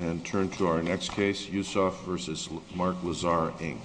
And turn to our next case, Usov v. Mark Lazar, Inc.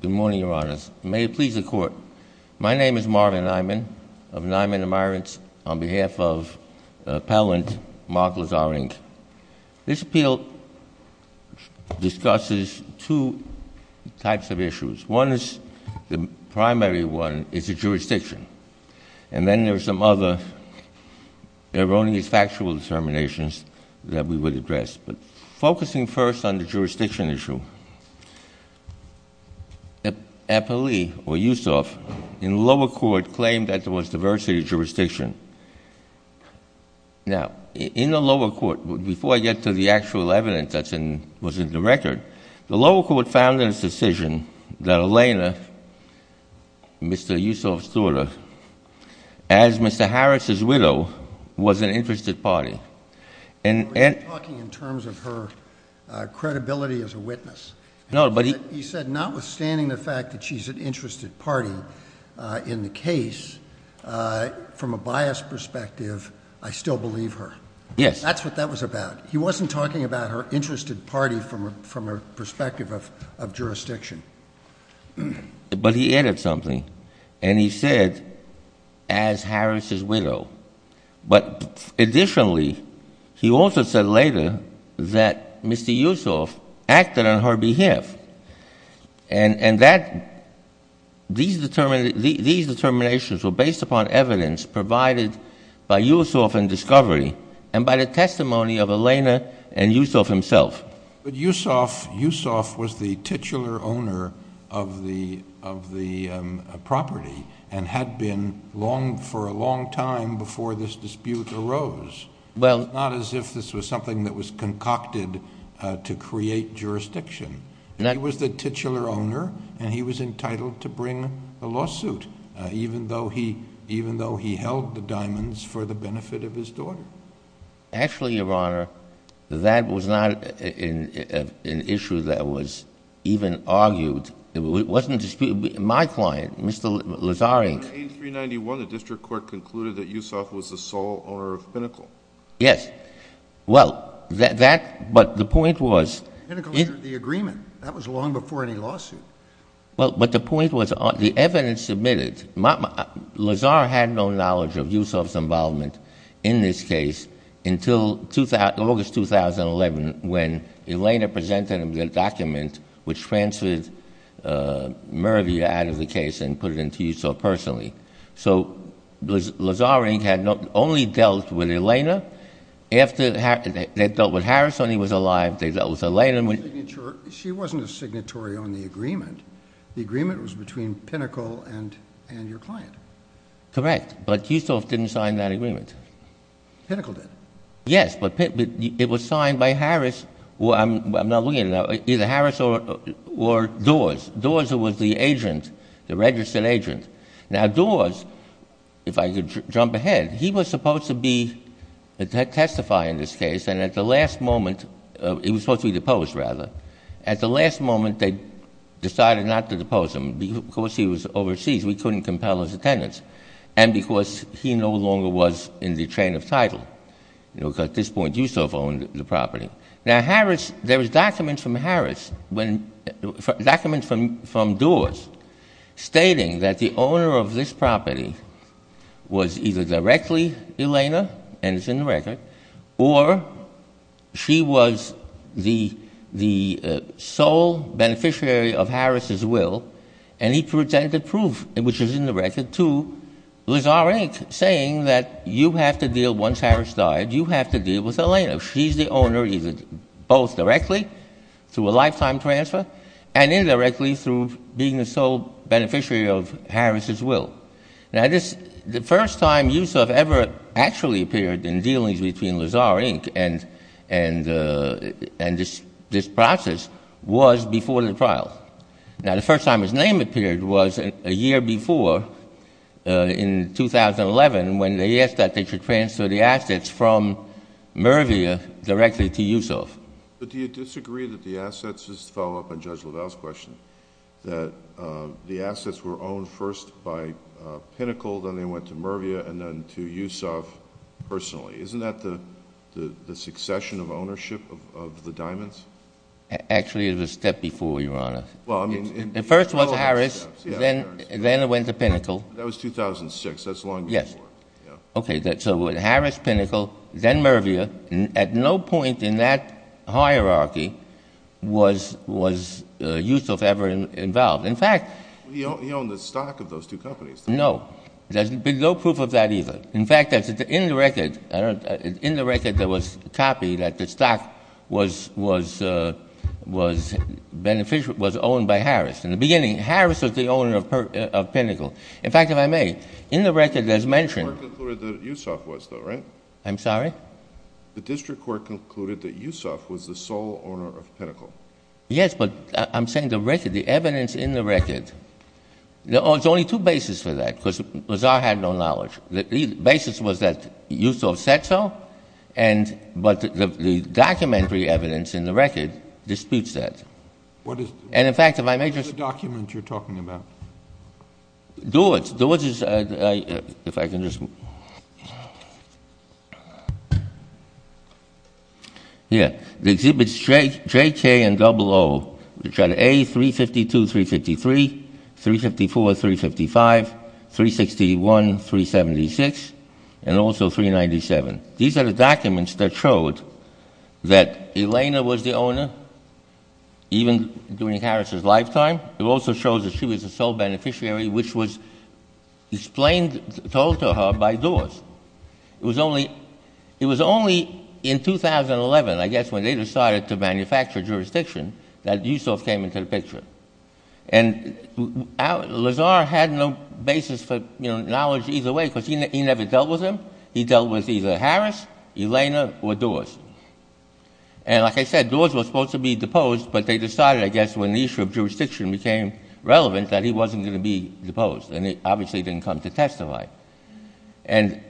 Good morning, Your Honors. May it please the Court, my name is Marvin Nyman of Nyman and Myron's on behalf of the appellant, Mark Lazar, Inc. This appeal discusses two types of issues. One is the primary one, it's the jurisdiction. And then there's some other erroneous factual determinations that we would address. But focusing first on the jurisdiction issue, the appellee, or Usov, in lower court claimed that there was diversity of jurisdiction. Now, in the lower court, before I get to the actual evidence that was in the record, the lower court found in its decision that Elena, Mr. Usov's daughter, as Mr. Harris's widow, was an interested party. We're talking in terms of her credibility as a witness. He said, notwithstanding the fact that she's an interested party in the case, from a biased perspective, I still believe her. Yes. That's what that was about. He wasn't talking about her interested party from a perspective of jurisdiction. But he added something, and he said, as Harris's widow. But additionally, he also said later that Mr. Usov acted on her behalf. And these determinations were based upon evidence provided by Usov and Discovery, and by the testimony of Elena and Usov himself. But Usov was the titular owner of the property, and had been for a long time before this dispute arose. Well. Not as if this was something that was concocted to create jurisdiction. He was the titular owner, and he was entitled to bring a lawsuit, even though he held the diamonds for the benefit of his daughter. Actually, Your Honor, that was not an issue that was even argued. It wasn't disputed. My client, Mr. Lazarink. In 18391, the district court concluded that Usov was the sole owner of Pinnacle. Yes. Well, that. But the point was. Pinnacle was the agreement. That was long before any lawsuit. But the point was, the evidence admitted, Lazar had no knowledge of Usov's involvement in this case until August 2011, when Elena presented him with a document which transferred Mervia out of the case, and put it into Usov personally. So Lazarink had only dealt with Elena, after they dealt with Harris when he was alive, they dealt with Elena. Signature. She wasn't a signatory on the agreement. The agreement was between Pinnacle and your client. Correct. But Usov didn't sign that agreement. Pinnacle did. Yes. But it was signed by Harris, or I'm not looking at it now, either Harris or Dawes. Dawes was the agent, the registered agent. Now, Dawes, if I could jump ahead, he was supposed to be a testifier in this case, and at the last moment, he was supposed to be deposed, rather. At the last moment, they decided not to depose him, because he was overseas. We couldn't compel his attendance. And because he no longer was in the chain of title, because at this point, Usov owned the property. Now, Harris, there was documents from Harris, documents from Dawes, stating that the owner of this property was either directly Elena, and it's in the record, or she was the sole beneficiary of Harris's will, and he presented proof, which is in the record, to Lazar, Inc., saying that you have to deal, once Harris died, you have to deal with Elena. She's the owner, either both directly, through a lifetime transfer, and indirectly, through being the sole beneficiary of Harris's will. Now, this, the first time Usov ever actually appeared in dealings between Lazar, Inc., and this process was before the trial. Now, the first time his name appeared was a year before, in 2011, when they asked that they should transfer the assets from Mervia directly to Usov. But do you disagree that the assets, just to follow up on Judge LaValle's question, that the assets were owned first by Pinnacle, then they went to Mervia, and then to Usov personally? Isn't that the succession of ownership of the diamonds? Actually, it was a step before, Your Honor. Well, I mean... The first was Harris, then it went to Pinnacle. That was 2006. That's a long way before. Yes. Okay, so it was Harris, Pinnacle, then Mervia. At no point in that hierarchy was Usov ever involved. In fact... He owned the stock of those two companies, didn't he? No. There's been no proof of that either. In fact, in the record, there was a copy that the stock was beneficial, was owned by Harris. In the beginning, Harris was the owner of Pinnacle. In fact, if I may, in the record, there's mention... The district court concluded that Usov was, though, right? I'm sorry? The district court concluded that Usov was the sole owner of Pinnacle. Yes, but I'm saying the record, the evidence in the record. There's only two bases for that, because Lazar had no knowledge. The basis was that Usov said so, but the documentary evidence in the record disputes that. What is... And in fact, if I may just... What is the document you're talking about? Do it. Do it. If I can just... Yeah. The exhibits JK and 00, which are the A352, 353, 354, 355, 361, 376, and also 397. These are the documents that showed that Elena was the owner, even during Harris's lifetime. It also shows that she was a sole beneficiary, which was explained, told to her by Doris. It was only in 2011, I guess, when they decided to manufacture jurisdiction, that Usov came into the picture. And Lazar had no basis for knowledge either way, because he never dealt with them. He dealt with either Harris, Elena, or Doris. And like I said, Doris was supposed to be deposed, but they decided, I guess, when the issue of jurisdiction became relevant, that he wasn't going to be deposed, and he obviously didn't come to testify. And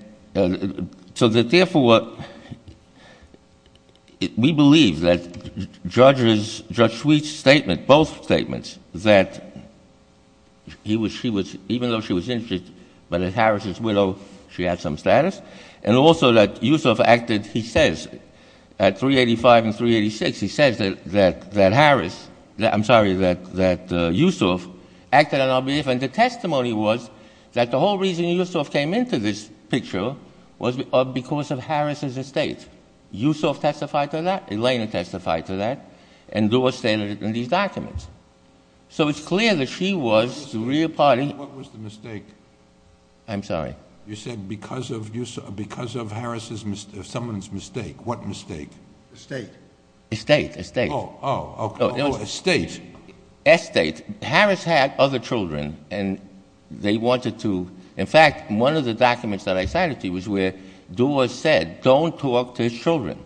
so therefore, we believe that Judge Sweet's statement, both statements, that even though she was interested, but as Harris's widow, she had some status. And also that Usov acted, he says, at 385 and 386, he says that Usov acted on our behalf. And the testimony was that the whole reason Usov came into this picture was because of Harris's estate. Usov testified to that, Elena testified to that, and Doris stated it in these documents. So it's clear that she was the real party. What was the mistake? I'm sorry? You said because of Harris's, someone's mistake. What mistake? Estate. Estate, estate. Oh, oh, okay. Oh, estate. Estate. Harris had other children, and they wanted to, in fact, one of the documents that I cited to you was where Doris said, don't talk to his children,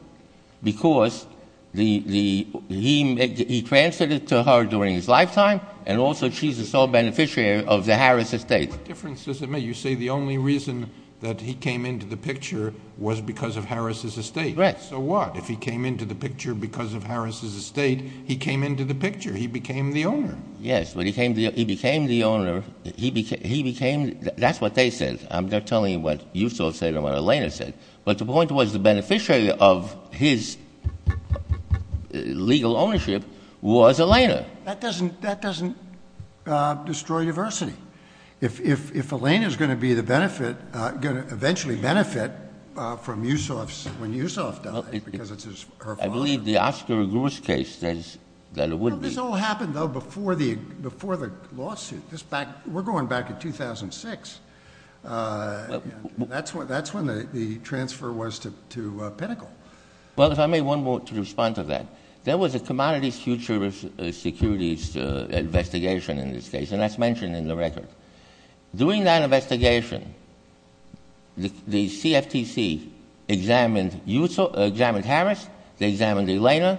because he transferred it to her during his lifetime, and also she's a sole beneficiary of the Harris estate. What difference does it make? You say the only reason that he came into the picture was because of Harris's estate. Right. So what? If he came into the picture because of Harris's estate, he came into the picture. He became the owner. Yes. He became the owner. He became, that's what they said. I'm not telling you what Usov said or what Elena said, but the point was the beneficiary of his legal ownership was Elena. That doesn't destroy diversity. If Elena's going to be the benefit, going to eventually benefit from Usov's, when Usov died, because it's her father. I believe the Oscar Agouris case says that it would be. This all happened though before the lawsuit. We're going back to 2006. That's when the transfer was to Pinnacle. Well, if I may, one more to respond to that. There was a commodities futures securities investigation in this case, and that's mentioned in the record. During that investigation, the CFTC examined Harris, they examined Elena,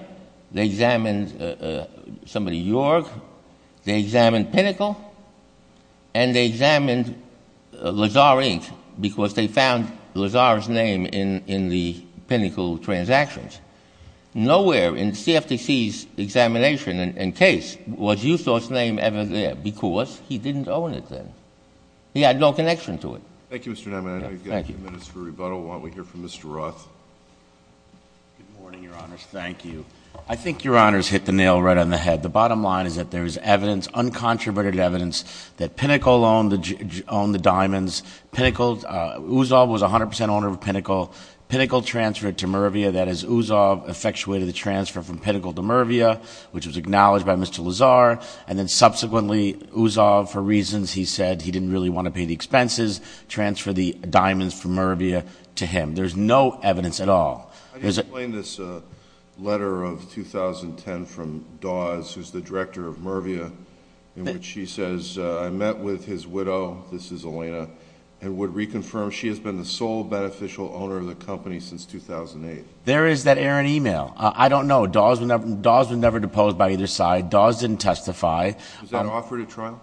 they examined somebody York, they examined Pinnacle, and they examined Lazar Inc. because they found Lazar's name in the Pinnacle transactions. Nowhere in CFTC's examination and case was Usov's name ever there because he didn't own it then. He had no connection to it. Thank you, Mr. Neiman. I know you've got a few minutes for rebuttal. Why don't we hear from Mr. Roth? Good morning, your honors. Thank you. I think your honors hit the nail right on the head. The bottom line is that there's evidence, uncontroverted evidence, that Pinnacle owned the diamonds. Usov was 100% owner of Pinnacle. Pinnacle transferred to Mervia. That is, Usov effectuated the transfer from Pinnacle to Mervia, which was acknowledged to Mervia. Usov was 100% owner of Pinnacle. Pinnacle transferred to Mervia. That is, he said he didn't really want to pay the expenses, transfer the diamonds from Mervia to him. There's no evidence at all. I just explained this letter of 2010 from Dawes, who's the director of Mervia, in which she says, I met with his widow. This is Alaina. It would reconfirm she has been the sole beneficial owner of the company since 2008. There is that errant email. I don't know. Dawes was never deposed by either side. Dawes didn't testify. Was that offered at trial?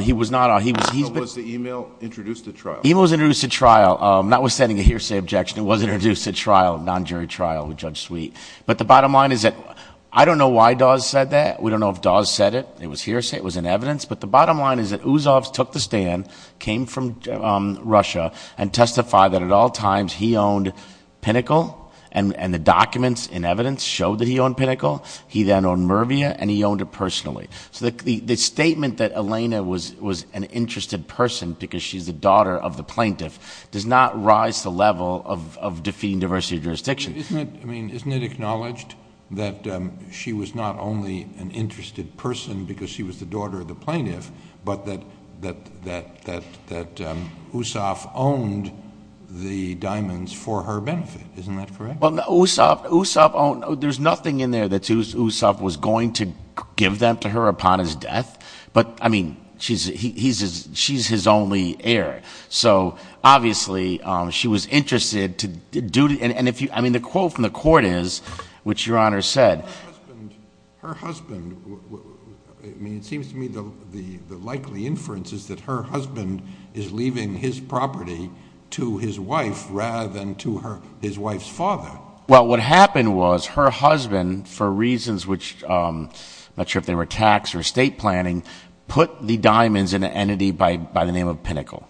He was not. Was the email introduced at trial? Email was introduced at trial. I'm not sending a hearsay objection. It was introduced at trial, non-jury trial with Judge Sweet. But the bottom line is that I don't know why Dawes said that. We don't know if Dawes said it. It was hearsay. It was in evidence. But the bottom line is that Usov took the stand, came from Russia, and testified that at all times he owned Pinnacle, and the documents and evidence showed that he owned Pinnacle. He then owned Mervia, and he owned it personally. So the statement that Elena was an interested person because she's the daughter of the plaintiff does not rise to the level of defeating diversity of jurisdiction. Isn't it acknowledged that she was not only an interested person because she was the daughter of the plaintiff, but that Usov owned the diamonds for her benefit? Isn't that correct? Well, no. Usov owned... There's nothing in there that Usov was going to give them to her upon his death. But I mean, she's his only heir. So obviously, she was interested to do... And if you... I mean, the quote from the court is, which Your Honor said... Her husband... I mean, it seems to me the likely inference is that her husband is leaving his property to his wife rather than to his wife's father. Well, what happened was her husband, for reasons which... I'm not sure if they were tax or estate planning, put the diamonds in an entity by the name of Pinnacle,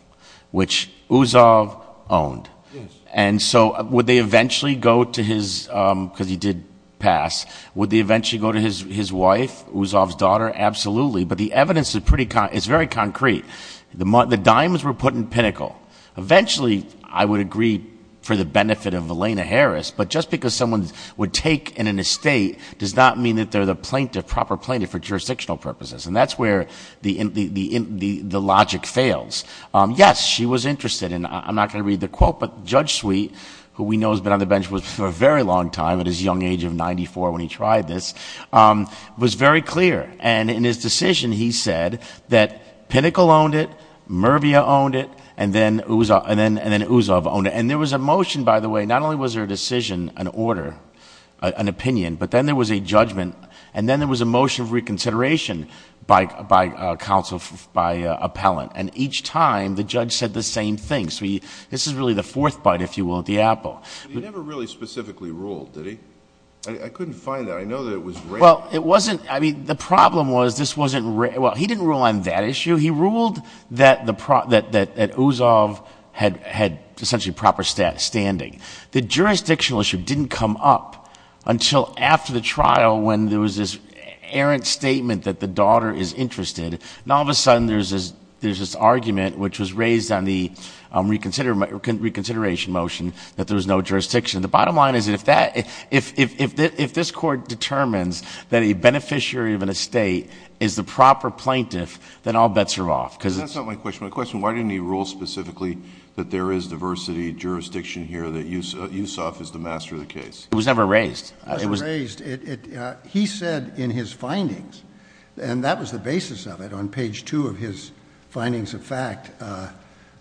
which Usov owned. And so would they eventually go to his... Because he did pass. Would they eventually go to his wife, Usov's daughter? Absolutely. But the evidence is pretty... It's very concrete. The diamonds were put in Pinnacle. Eventually, I would agree for the benefit of Elena Harris. But just because someone would take in an estate does not mean that they're the proper plaintiff for jurisdictional purposes. And that's where the logic fails. Yes, she was interested. And I'm not going to read the quote, but Judge Sweet, who we know has been on the bench for a very long time, at his young age of 94 when he tried this, was very clear. And in his decision, he said that Pinnacle owned it, Murvia owned it, and then Usov owned it. And there was a motion, by the way, not only was there a decision, an order, an opinion, but then there was a judgment, and then there was a motion of reconsideration by counsel, by appellant. And each time, the judge said the same thing. So this is really the fourth bite, if you will, at the apple. He never really specifically ruled, did he? I couldn't find that. I know that it was written. Well, it wasn't, I mean, the problem was this wasn't, well, he didn't rule on that issue. He ruled that Usov had essentially proper standing. The jurisdictional issue didn't come up until after the trial, when there was this errant statement that the daughter is interested. And all of a sudden, there's this argument, which was raised on the reconsideration motion, that there was no jurisdiction. The bottom line is that if this court determines that a beneficiary of an estate is the proper plaintiff, then all bets are off. because it's- That's not my question. My question, why didn't he rule specifically that there is diversity jurisdiction here, that Usov is the master of the case? It was never raised. It was- It was raised. He said in his findings, and that was the basis of it, on page two of his findings of fact,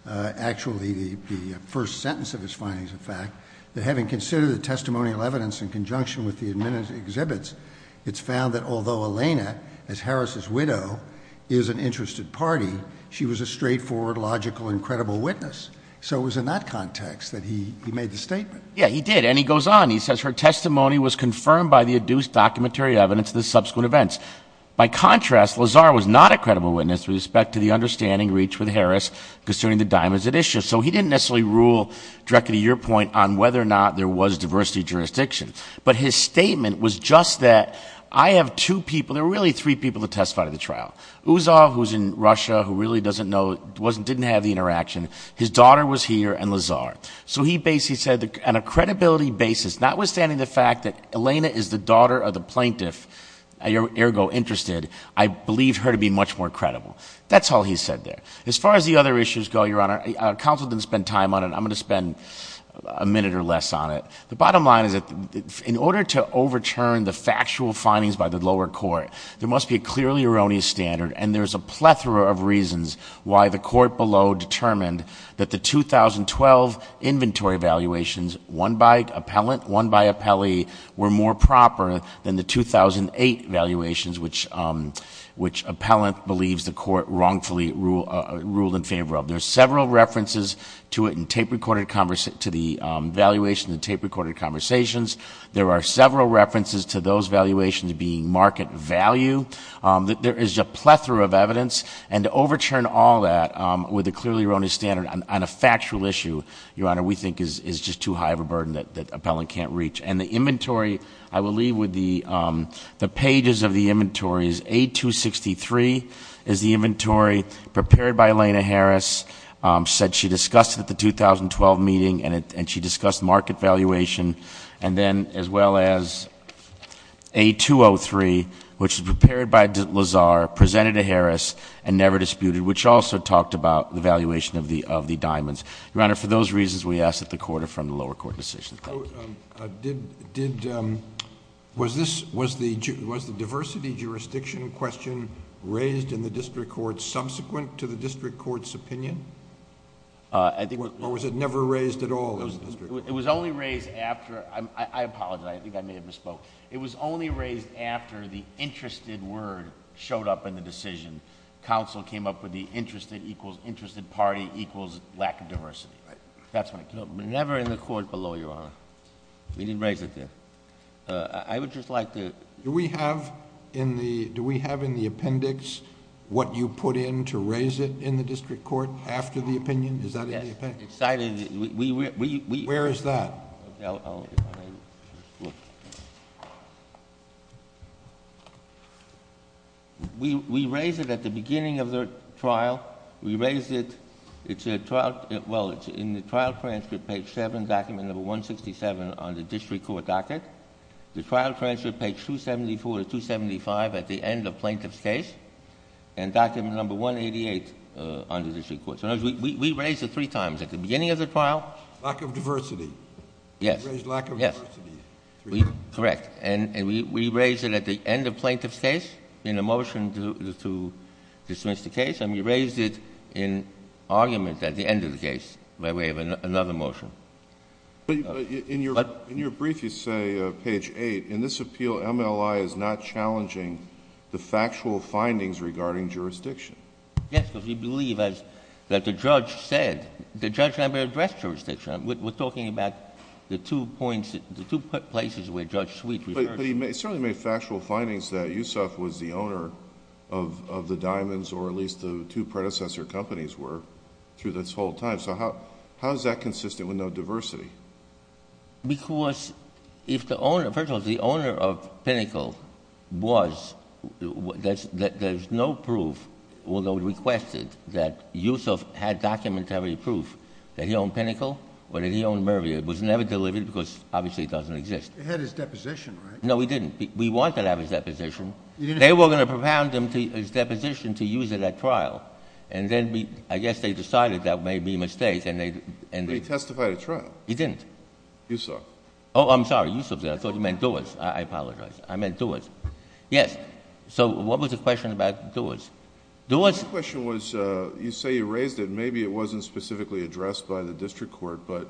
actually the first sentence of his findings of fact, that having considered the testimonial evidence in conjunction with the admitted exhibits, it's found that although Elena, as Harris' widow, is an interested party, she was a straightforward, logical, and credible witness. So it was in that context that he made the statement. Yeah, he did, and he goes on. He says her testimony was confirmed by the adduced documentary evidence of the subsequent events. By contrast, Lazar was not a credible witness with respect to the understanding reached with Harris concerning the diamonds at issue. So he didn't necessarily rule directly to your point on whether or not there was diversity jurisdiction. But his statement was just that I have two people, there were really three people to testify to the trial. Usov, who's in Russia, who really doesn't know, didn't have the interaction. His daughter was here, and Lazar. So he basically said, on a credibility basis, notwithstanding the fact that Elena is the daughter of the plaintiff, ergo interested, I believe her to be much more credible. That's all he said there. As far as the other issues go, your honor, counsel didn't spend time on it. I'm going to spend a minute or less on it. The bottom line is that in order to overturn the factual findings by the lower court, there must be a clearly erroneous standard. And there's a plethora of reasons why the court below determined that the 2012 inventory evaluations, one by appellant, one by appellee, were more proper than the 2008 evaluations, which appellant believes the court wrongfully ruled in favor of. There's several references to it in tape recorded conversations. There are several references to those valuations being market value. There is a plethora of evidence. And to overturn all that with a clearly erroneous standard on a factual issue, your honor, we think is just too high of a burden that appellant can't reach. And the inventory, I will leave with the pages of the inventories. A263 is the inventory prepared by Elena Harris, said she discussed it at the 2012 meeting, and she discussed market valuation. And then as well as A203, which was prepared by Lazar, presented to Harris, and never disputed, which also talked about the valuation of the diamonds. Your honor, for those reasons, we ask that the court affirm the lower court decision. Thank you. Did, was this, was the diversity jurisdiction question raised in the district court subsequent to the district court's opinion? I think- Or was it never raised at all in the district? It was only raised after, I apologize, I think I may have misspoke. It was only raised after the interested word showed up in the decision. Council came up with the interested equals interested party equals lack of diversity. That's when it came up. But never in the court below, your honor. We didn't raise it there. I would just like to- Do we have in the, do we have in the appendix what you put in to raise it in the district court after the opinion? Is that in the appendix? Yes, it's cited, we, we, we, we- Where is that? We, we raised it at the beginning of the trial. We raised it, it's a trial, well, it's in the trial transcript page seven, document number 167 on the district court docket. The trial transcript page 274 to 275 at the end of plaintiff's case. And document number 188 on the district court. So in other words, we, we, we raised it three times at the beginning of the trial. Lack of diversity. Yes. We raised lack of diversity. Correct. And, and we, we raised it at the end of plaintiff's case. In a motion to, to dismiss the case. And we raised it in argument at the end of the case. Where we have another motion. But in your, in your brief you say page eight. In this appeal MLI is not challenging the factual findings regarding jurisdiction. Yes, because we believe as that the judge said. The judge never addressed jurisdiction. We're, we're talking about the two points, the two places where Judge Sweet referred. But, but he certainly made factual findings that Yusuf was the owner of, of the diamonds, or at least the two predecessor companies were through this whole time. So how, how is that consistent with no diversity? Because if the owner, first of all, if the owner of Pinnacle was, that's, that there's no proof, although we requested that Yusuf had documentary proof. That he owned Pinnacle, or that he owned Murry. It was never delivered, because obviously it doesn't exist. He had his deposition, right? No, he didn't. We wanted to have his deposition. They were going to propound him to his deposition to use it at trial. And then we, I guess they decided that may be a mistake, and they, and they. But he testified at trial. He didn't. Yusuf. Oh, I'm sorry. Yusuf did. I thought you meant Duas. I, I apologize. I meant Duas. Yes. So what was the question about Duas? Duas. My question was, you say you raised it. Maybe it wasn't specifically addressed by the district court. But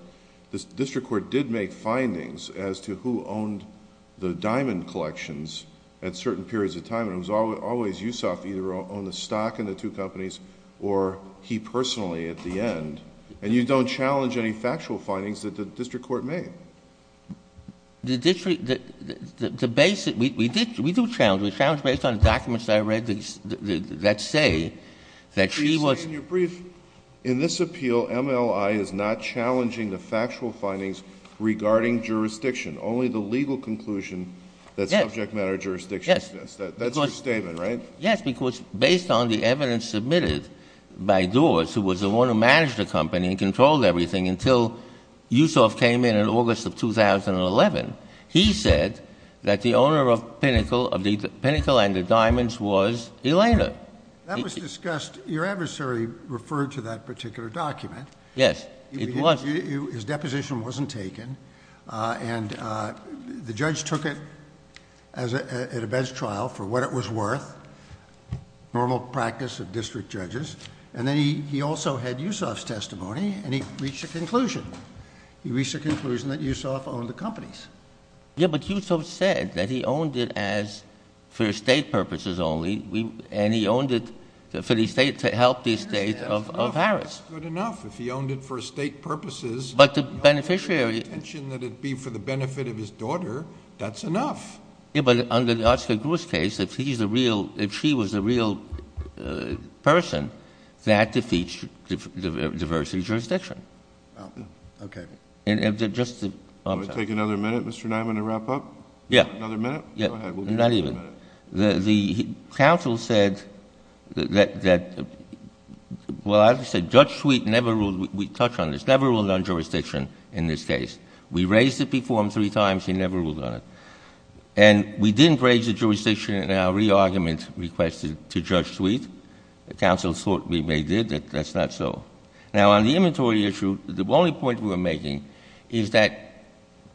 the district court did make findings as to who owned the diamond collections. At certain periods of time. And it was always, always Yusuf either owned the stock in the two companies. Or he personally at the end. And you don't challenge any factual findings that the district court made. The district, the, the, the basic, we, we did, we do challenge. We challenge based on documents that I read that say that she was. In your brief, in this appeal, MLI is not challenging the factual findings regarding jurisdiction. Only the legal conclusion that subject matter jurisdiction exists. That's your statement, right? Yes, because based on the evidence submitted by Duas, who was the one who managed the company and controlled everything until Yusuf came in in August of 2011. He said that the owner of Pinnacle, of the Pinnacle and the Diamonds was Elena. That was discussed, your adversary referred to that particular document. Yes, it was. His deposition wasn't taken. And the judge took it at a bench trial for what it was worth. Normal practice of district judges. And then he also had Yusuf's testimony and he reached a conclusion. He reached a conclusion that Yusuf owned the companies. Yeah, but Yusuf said that he owned it as for estate purposes only. And he owned it for the estate, to help the estate of Harris. Good enough. If he owned it for estate purposes. But the beneficiary. Intention that it be for the benefit of his daughter. That's enough. Yeah, but under the Oscar Gruss case, if he's a real, if she was a real person, that defeats the diversity of jurisdiction. Okay. And if they're just. I'll take another minute, Mr. Diamond, to wrap up. Yeah. Another minute? Yeah. Go ahead. Not even. The, the counsel said that, that, well, as I said, Judge Sweet never ruled, we touch on this, never ruled on jurisdiction in this case. We raised it before him three times, he never ruled on it. And we didn't raise the jurisdiction in our re-argument requested to Judge Sweet. The counsel thought we may did, that, that's not so. Now on the inventory issue, the only point we're making is that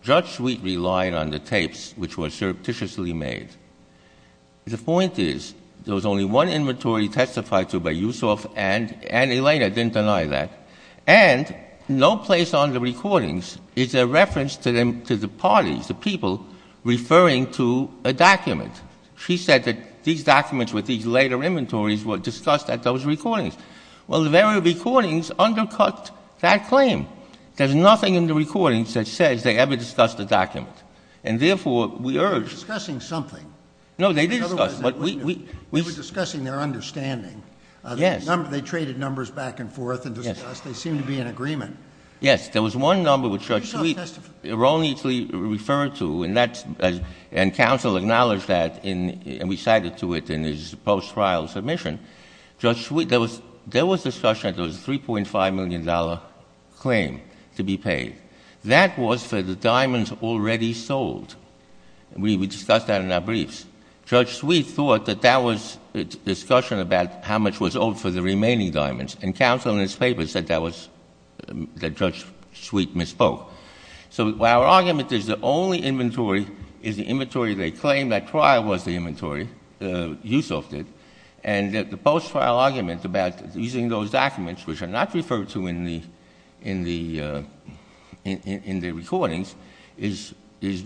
Judge Sweet relied on the tapes which were surreptitiously made. The point is, there was only one inventory testified to by Yusuf and, and Elena didn't deny that. And no place on the recordings is a reference to them, to the parties, the people, referring to a document. She said that these documents with these later inventories were discussed at those recordings. Well, the very recordings undercut that claim. There's nothing in the recordings that says they ever discussed the document. And therefore, we urge. They were discussing something. No, they did discuss. But we, we. We were discussing their understanding. Yes. They traded numbers back and forth and discussed. They seemed to be in agreement. Yes, there was one number which Judge Sweet erroneously referred to. And that's, and counsel acknowledged that in, and we cited to it in his post-trial submission. Judge Sweet, there was, there was discussion that there was a $3.5 million claim to be paid. That was for the diamonds already sold. We, we discussed that in our briefs. Judge Sweet thought that that was discussion about how much was owed for the remaining diamonds. And counsel in his paper said that was, that Judge Sweet misspoke. So our argument is the only inventory is the inventory they claimed at trial was the inventory, Yusof did. And that the post-trial argument about using those documents, which are not referred to in the, in the, in the recordings, is, is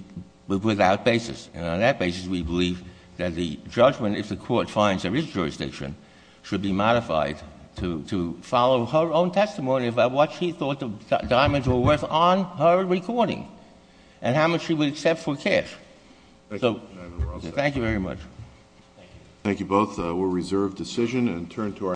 without basis. And on that basis, we believe that the judgment, if the court finds there is jurisdiction, should be modified to, to follow her own testimony about what she thought the diamonds were worth on her recording. And how much she would accept for cash. So, thank you very much. Thank you both. We'll reserve decision and turn to our